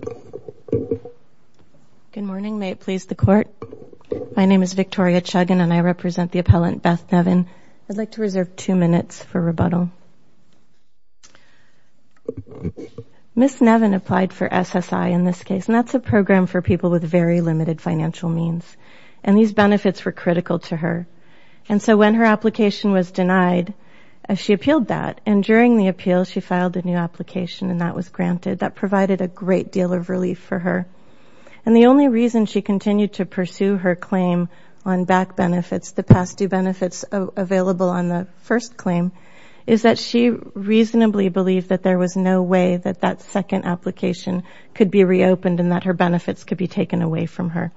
Good morning. May it please the Court? My name is Victoria Chuggin, and I represent the appellant, Beth Nevin. I'd like to reserve two minutes for rebuttal. Ms. Nevin applied for SSI in this case, and that's a program for people with very limited financial means, and these benefits were critical to her. And so when her application was denied, she appealed that, and during the appeal, she filed a new application, and that was granted. That provided a great deal of relief for her. And the only reason she continued to pursue her claim on BAC benefits, the past due benefits available on the first claim, is that she reasonably believed that there was no way that that second application could be reopened and that her benefits could be taken away from her.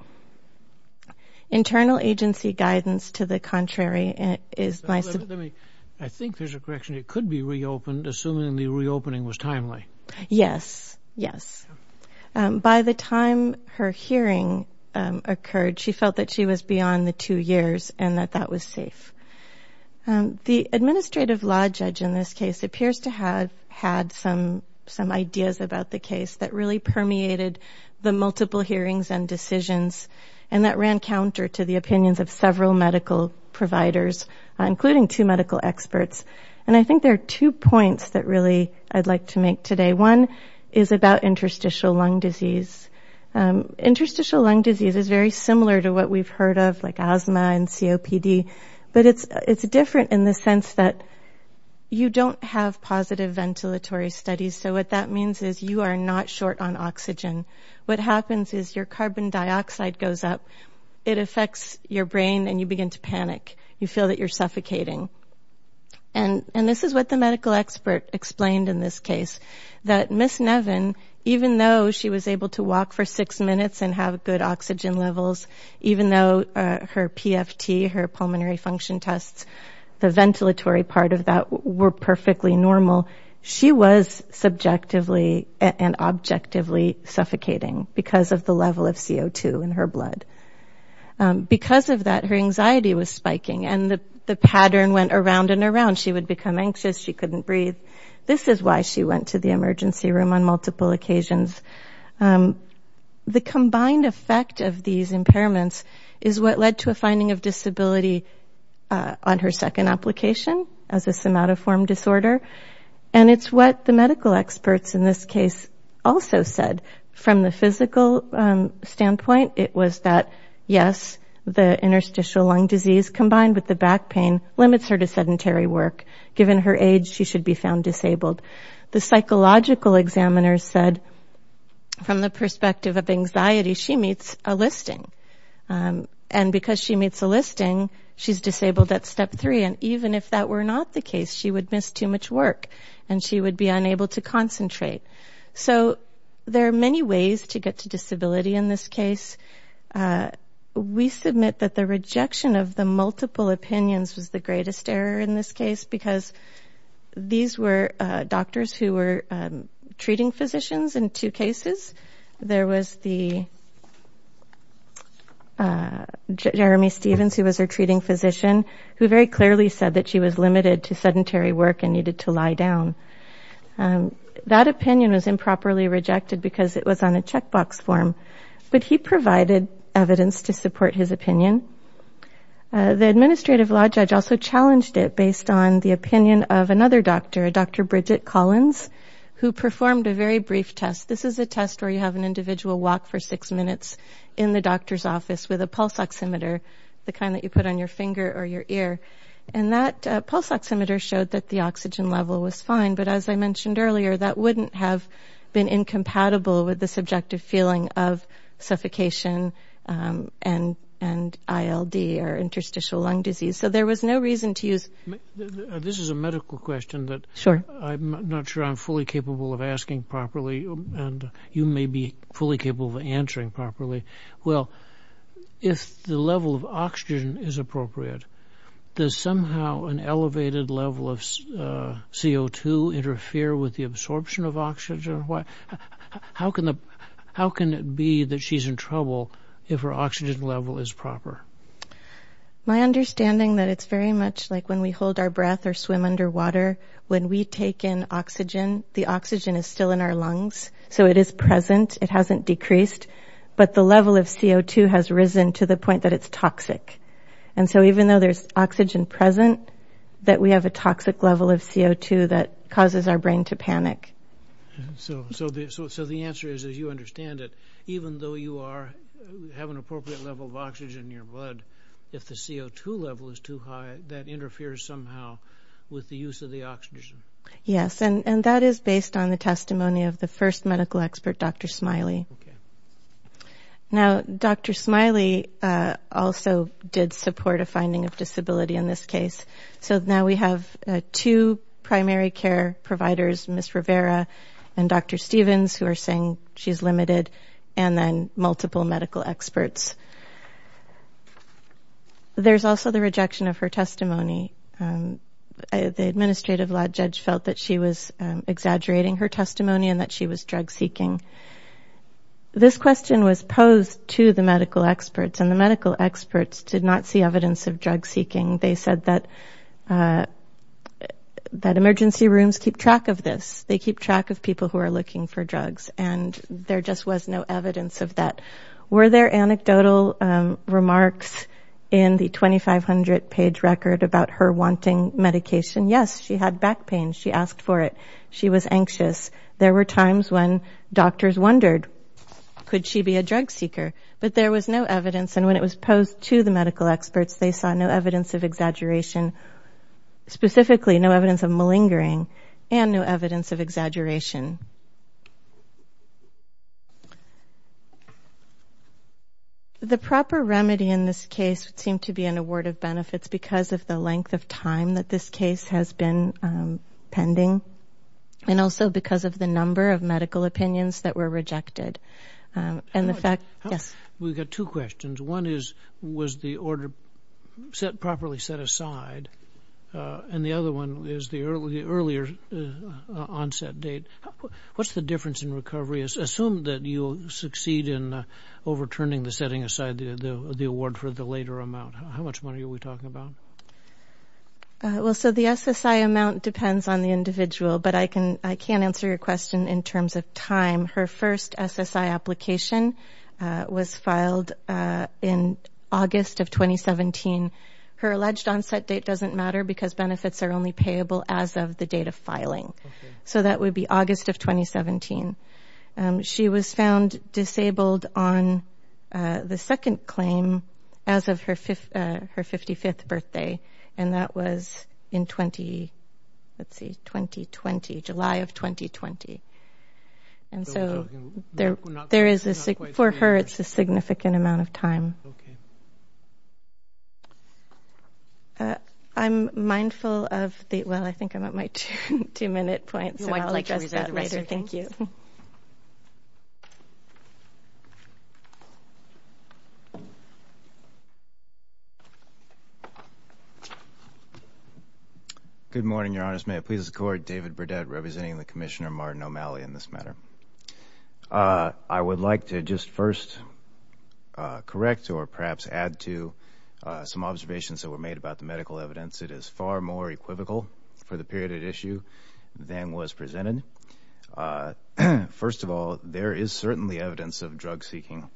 Internal agency guidance, to the contrary, is my support. I think there's a correction. It could be reopened, assuming the reopening was timely. Yes, yes. By the time her hearing occurred, she felt that she was beyond the two years and that that was safe. The administrative law judge in this case appears to have had some ideas about the case that really permeated the multiple hearings and decisions and that ran counter to the opinions of several medical providers, including two medical experts. And I think there are two points that really I'd like to make today. One is about interstitial lung disease. Interstitial lung disease is very similar to what we've heard of, like asthma and COPD, but it's different in the sense that you don't have positive ventilatory studies. So what that means is you are not short on oxygen. What happens is your carbon dioxide goes up. It affects your brain, and you begin to panic. You feel that you're suffocating. And this is what the medical expert explained in this case, that Ms. Nevin, even though she was able to walk for six minutes and have good oxygen levels, even though her PFT, her pulmonary function tests, the ventilatory part of that were perfectly normal, she was subjectively and objectively suffocating because of the level of CO2 in her blood. Because of that, her anxiety was spiking, and the pattern went around and around. She would become anxious. She couldn't breathe. This is why she went to the emergency room on multiple occasions. The combined effect of these impairments is what led to a finding of disability on her second application as a somatoform disorder. And it's what the medical experts in this case also said. From the physical standpoint, it was that, yes, the interstitial lung disease combined with the back pain limits her to sedentary work. Given her age, she should be found disabled. The psychological examiners said, from the perspective of anxiety, she meets a listing. And because she meets a listing, she's disabled at step three. And even if that were not the case, she would miss too much work, and she would be unable to concentrate. So there are many ways to get to disability in this case. We submit that the rejection of the multiple opinions was the greatest error in this case, because these were doctors who were treating physicians in two cases. There was the... Jeremy Stevens, who was her treating physician, who very clearly said that she was limited to sedentary work and needed to lie down. That opinion was improperly rejected because it was on a checkbox form. But he provided evidence to support his opinion. The administrative law judge also challenged it based on the opinion of another doctor, Dr. Bridget Collins, who performed a very brief test. This is a test where you have an individual walk for six minutes in the doctor's office with a pulse oximeter, the kind that you put on your finger or your ear. And that pulse oximeter showed that the oxygen level was fine, but as I mentioned earlier, that wouldn't have been incompatible with the subjective feeling of suffocation and ILD, or interstitial lung disease. So there was no reason to use... This is a medical question that I'm not sure I'm fully capable of asking properly, and you may be fully capable of answering properly. Well, if the level of oxygen is appropriate, does somehow an elevated level of CO2 interfere with the absorption of oxygen? How can it be that she's in trouble if her oxygen level is proper? My understanding that it's very much like when we hold our breath or swim underwater. When we take in oxygen, the oxygen is still in our lungs, so it is present. It hasn't decreased. But the level of CO2 has risen to the point that it's toxic. And so even though there's oxygen present, that we have a toxic level of CO2 that causes our brain to panic. So the answer is, as you understand it, even though you have an appropriate level of oxygen in your blood, if the CO2 level is too high, that interferes somehow with the use of the oxygen. Yes, and that is based on the testimony of the first medical expert, Dr. Smiley. Okay. Now, Dr. Smiley also did support a finding of disability in this case. So now we have two primary care providers, Ms. Rivera and Dr. Stevens, who are saying she's limited, and then multiple medical experts. There's also the rejection of her testimony. The administrative law judge felt that she was exaggerating her testimony and that she was drug-seeking. This question was posed to the medical experts, and the medical experts did not see evidence of drug-seeking. They said that emergency rooms keep track of this. They keep track of people who are looking for drugs, and there just was no evidence of that. Were there anecdotal remarks in the 2,500-page record about her wanting medication? Yes, she had back pain. She asked for it. She was anxious. There were times when doctors wondered, could she be a drug seeker? But there was no evidence, and when it was posed to the medical experts, they saw no evidence of exaggeration, specifically no evidence of malingering and no evidence of exaggeration. The proper remedy in this case would seem to be an award of benefits because of the length of time that this case has been pending and also because of the number of medical opinions that were rejected. We've got two questions. One is, was the order properly set aside? And the other one is the earlier onset date. What's the difference in recovery? Assume that you succeed in overturning the setting aside the award for the later amount. How much money are we talking about? Well, so the SSI amount depends on the individual, but I can't answer your question in terms of time. Her first SSI application was filed in August of 2017. Her alleged onset date doesn't matter because benefits are only payable as of the date of filing. So that would be August of 2017. She was found disabled on the second claim as of her 55th birthday, and that was in 2020, July of 2020. And so for her, it's a significant amount of time. I'm mindful of the – well, I think I'm at my two-minute point, so I'll address that later. Thank you. Good morning, Your Honors. May it please the Court, David Burdett representing the Commissioner Martin O'Malley in this matter. I would like to just first correct or perhaps add to some observations that were made about the medical evidence. It is far more equivocal for the period at issue than was presented. First of all, there is certainly evidence of drug-seeking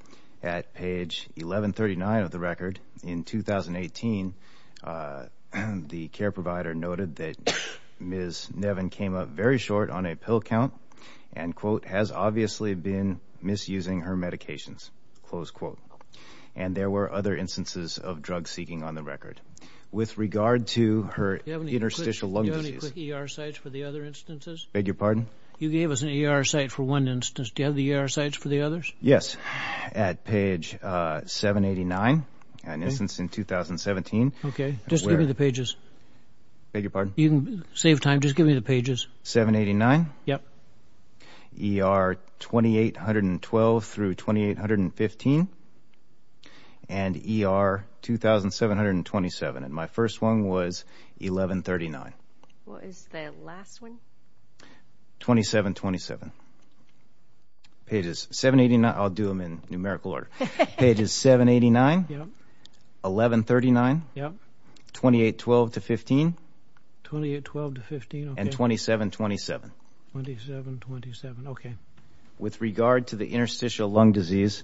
at page 1139 of the record. In 2018, the care provider noted that Ms. Nevin came up very short on a pill count and, quote, has obviously been misusing her medications, close quote. And there were other instances of drug-seeking on the record. With regard to her interstitial lung disease – Do you have any quick ER sites for the other instances? Beg your pardon? You gave us an ER site for one instance. Do you have the ER sites for the others? Yes. At page 789, an instance in 2017. Okay. Just give me the pages. Beg your pardon? You can save time. Just give me the pages. 789? Yep. ER 2812 through 2815. And ER 2727. And my first one was 1139. What is the last one? 2727. Pages 789 – I'll do them in numerical order. Pages 789, 1139, 2812 to 15. 2812 to 15, okay. And 2727. 2727, okay. With regard to the interstitial lung disease,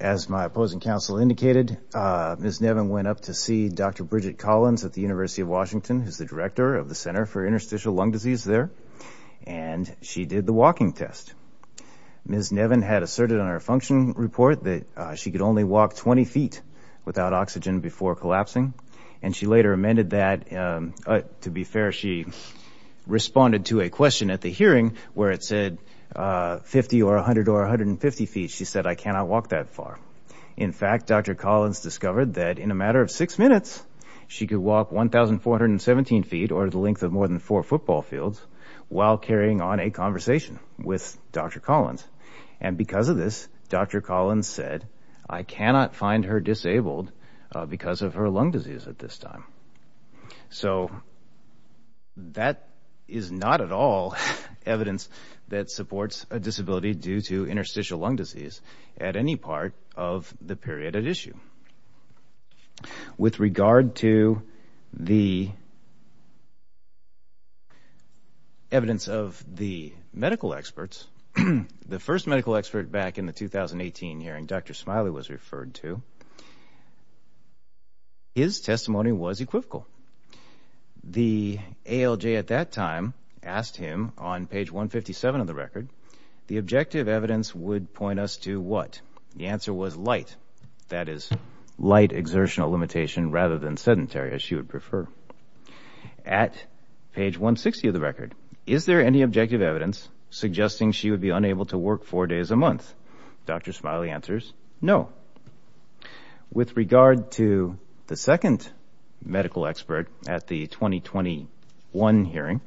as my opposing counsel indicated, Ms. Nevin went up to see Dr. Bridget Collins at the University of Washington, who's the director of the Center for Interstitial Lung Disease there, and she did the walking test. Ms. Nevin had asserted on her function report that she could only walk 20 feet without oxygen before collapsing, and she later amended that. To be fair, she responded to a question at the hearing where it said 50 or 100 or 150 feet. She said, I cannot walk that far. In fact, Dr. Collins discovered that in a matter of six minutes, she could walk 1,417 feet, or the length of more than four football fields, while carrying on a conversation with Dr. Collins. And because of this, Dr. Collins said, I cannot find her disabled because of her lung disease at this time. So that is not at all evidence that supports a disability due to interstitial lung disease at any part of the period at issue. With regard to the evidence of the medical experts, the first medical expert back in the 2018 hearing Dr. Smiley was referred to, his testimony was equivocal. The ALJ at that time asked him on page 157 of the record, the objective evidence would point us to what? The answer was light. That is, light exertional limitation rather than sedentary, as she would prefer. At page 160 of the record, is there any objective evidence suggesting she would be unable to work four days a month? Dr. Smiley answers, no. With regard to the second medical expert at the 2021 hearing,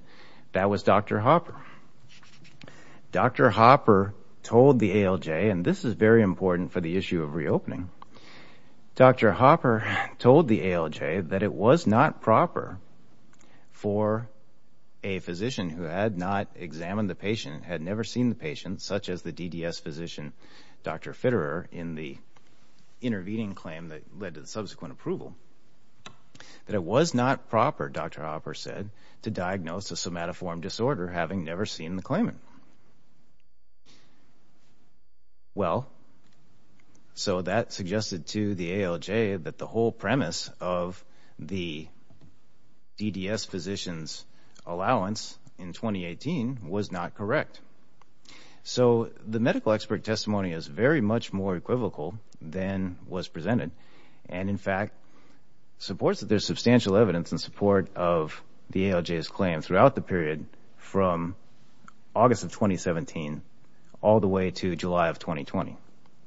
that was Dr. Hopper. Dr. Hopper told the ALJ, and this is very important for the issue of reopening, Dr. Hopper told the ALJ that it was not proper for a physician who had not examined the patient, had never seen the patient, such as the DDS physician, Dr. Fitterer, in the intervening claim that led to the subsequent approval, that it was not proper, Dr. Hopper said, to diagnose a somatoform disorder having never seen the claimant. Well, so that suggested to the ALJ that the whole premise of the DDS physician's allowance in 2018 was not correct. So the medical expert testimony is very much more equivocal than was presented, and in fact supports that there's substantial evidence in support of the ALJ's claim throughout the period from August of 2017 all the way to July of 2020.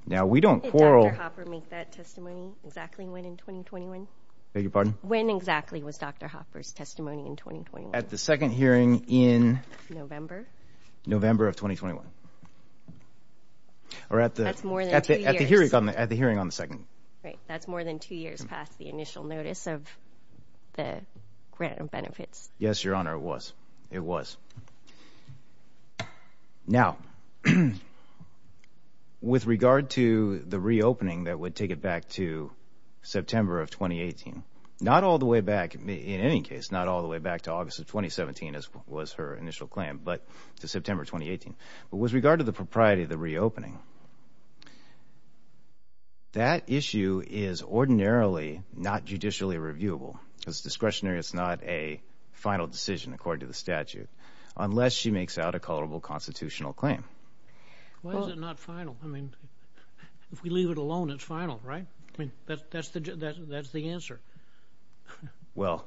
Now, we don't quarrel. Did Dr. Hopper make that testimony exactly when in 2021? Beg your pardon? When exactly was Dr. Hopper's testimony in 2021? At the second hearing in? November. November of 2021. That's more than two years. At the hearing on the second. Right, that's more than two years past the initial notice of the grant of benefits. Yes, Your Honor, it was. Now, with regard to the reopening that would take it back to September of 2018, not all the way back, in any case, not all the way back to August of 2017 as was her initial claim, but to September 2018, but with regard to the propriety of the reopening, that issue is ordinarily not judicially reviewable. It's discretionary. It's not a final decision, according to the statute, unless she makes out a culpable constitutional claim. Why is it not final? I mean, if we leave it alone, it's final, right? I mean, that's the answer. Well,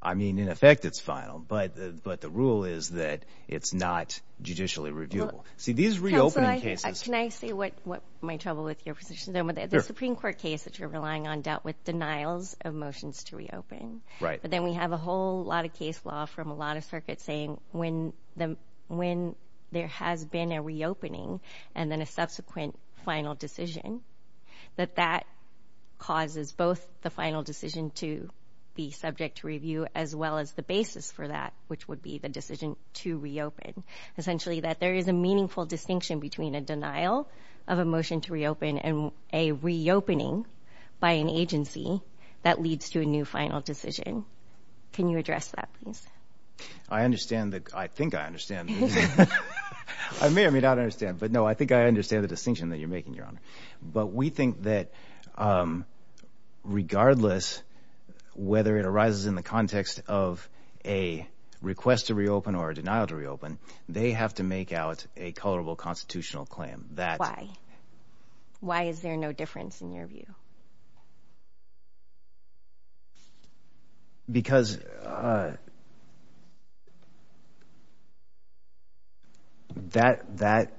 I mean, in effect, it's final, but the rule is that it's not judicially reviewable. See, these reopening cases. Counselor, can I say what might trouble with your position? The Supreme Court case that you're relying on dealt with denials of motions to reopen. But then we have a whole lot of case law from a lot of circuits saying when there has been a reopening and then a subsequent final decision, that that causes both the final decision to be subject to review as well as the basis for that, which would be the decision to reopen. Essentially that there is a meaningful distinction between a denial of a motion to reopen and a reopening by an agency that leads to a new final decision. Can you address that, please? I understand that. I think I understand. I may or may not understand. But, no, I think I understand the distinction that you're making, Your Honor. But we think that regardless whether it arises in the context of a request to reopen or a denial to reopen, they have to make out a colorable constitutional claim. Why? Why is there no difference in your view? Because that,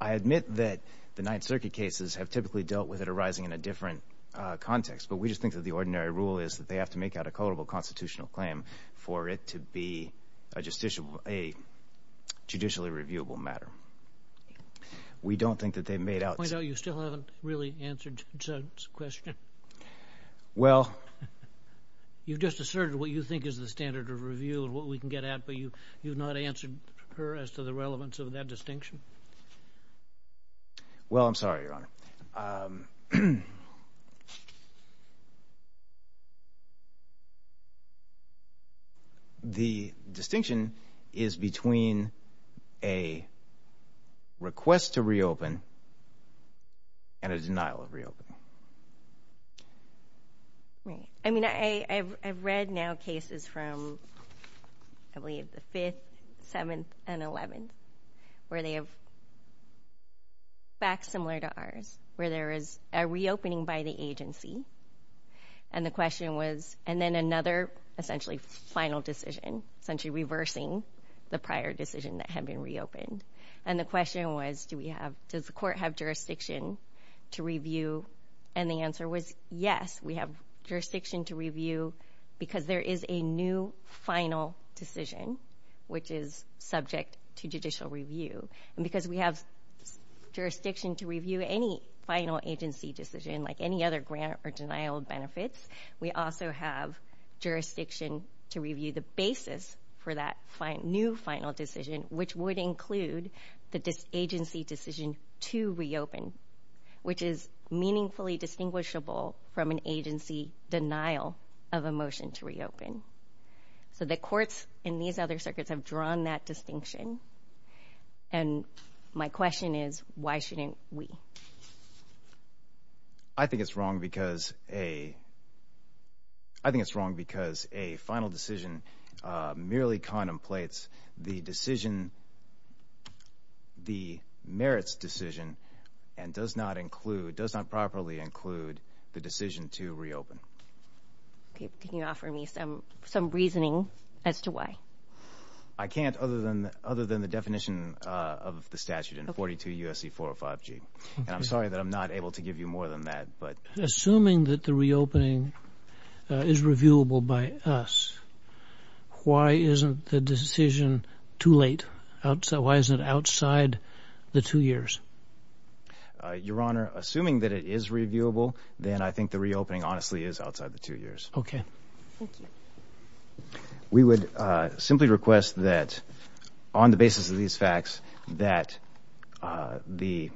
I admit that the Ninth Circuit cases have typically dealt with it arising in a different context. But we just think that the ordinary rule is that they have to make out a colorable constitutional claim for it to be a judicially reviewable matter. We don't think that they've made out. May I point out you still haven't really answered Judd's question? Well. You've just asserted what you think is the standard of review and what we can get at, but you've not answered her as to the relevance of that distinction. Well, I'm sorry, Your Honor. The distinction is between a request to reopen and a denial of reopen. Right. a reopening by the agency. And the question was, and then another essentially final decision, essentially reversing the prior decision that had been reopened. And the question was, does the court have jurisdiction to review? And the answer was, yes, we have jurisdiction to review because there is a new final decision, which is subject to judicial review. And because we have jurisdiction to review any final agency decision, like any other grant or denial of benefits, we also have jurisdiction to review the basis for that new final decision, which would include the agency decision to reopen, which is meaningfully distinguishable from an agency denial of a motion to reopen. So the courts in these other circuits have drawn that distinction. And my question is, why shouldn't we? I think it's wrong because a final decision merely contemplates the decision, the merits decision, and does not properly include the decision to reopen. Can you offer me some reasoning as to why? I can't other than the definition of the statute in 42 U.S.C. 405G. And I'm sorry that I'm not able to give you more than that. Assuming that the reopening is reviewable by us, why isn't the decision too late? Why isn't it outside the two years? Your Honor, assuming that it is reviewable, then I think the reopening honestly is outside the two years. Okay. Thank you. We would simply request that, on the basis of these facts, that the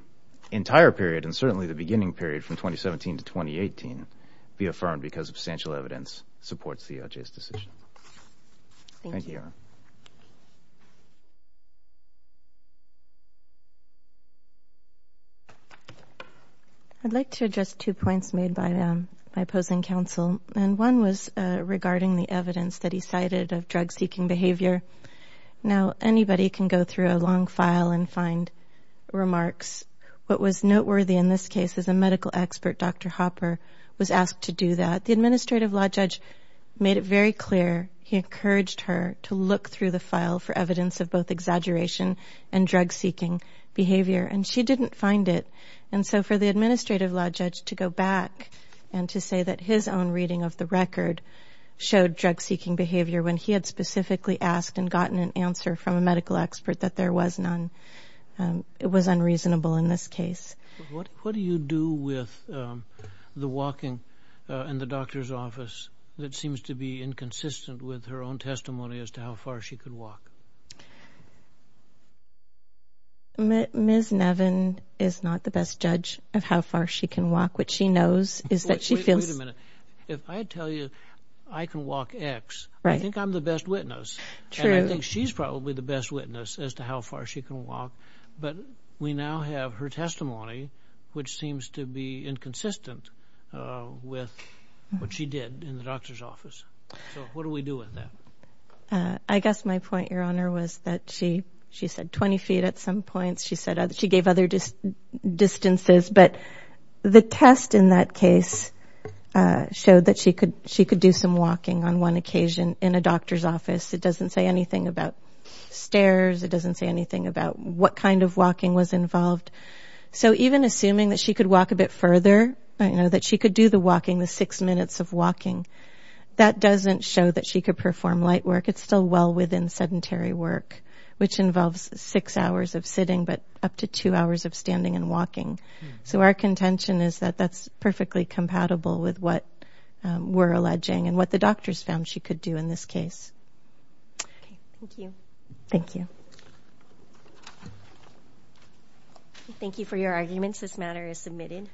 entire period, and certainly the beginning period from 2017 to 2018, be affirmed because substantial evidence supports CLJ's decision. Thank you. Thank you, Your Honor. I'd like to address two points made by opposing counsel, and one was regarding the evidence that he cited of drug-seeking behavior. Now, anybody can go through a long file and find remarks. What was noteworthy in this case is a medical expert, Dr. Hopper, was asked to do that. The administrative law judge made it very clear he encouraged her to look through the file for evidence of both exaggeration and drug-seeking behavior, and she didn't find it. And so for the administrative law judge to go back and to say that his own reading of the record showed drug-seeking behavior when he had specifically asked and gotten an answer from a medical expert that there was none, it was unreasonable in this case. What do you do with the walking in the doctor's office that seems to be inconsistent with her own testimony as to how far she could walk? Ms. Nevin is not the best judge of how far she can walk. What she knows is that she feels... Wait a minute. If I tell you I can walk X, I think I'm the best witness. True. And I think she's probably the best witness as to how far she can walk. But we now have her testimony, which seems to be inconsistent with what she did in the doctor's office. So what do we do with that? I guess my point, Your Honor, was that she said 20 feet at some points. She said she gave other distances. But the test in that case showed that she could do some walking on one occasion in a doctor's office. It doesn't say anything about stairs. It doesn't say anything about what kind of walking was involved. So even assuming that she could walk a bit further, that she could do the walking, the six minutes of walking, that doesn't show that she could perform light work. It's still well within sedentary work, which involves six hours of sitting, but up to two hours of standing and walking. So our contention is that that's perfectly compatible with what we're alleging and what the doctors found she could do in this case. Thank you. Thank you for your arguments. This matter is submitted.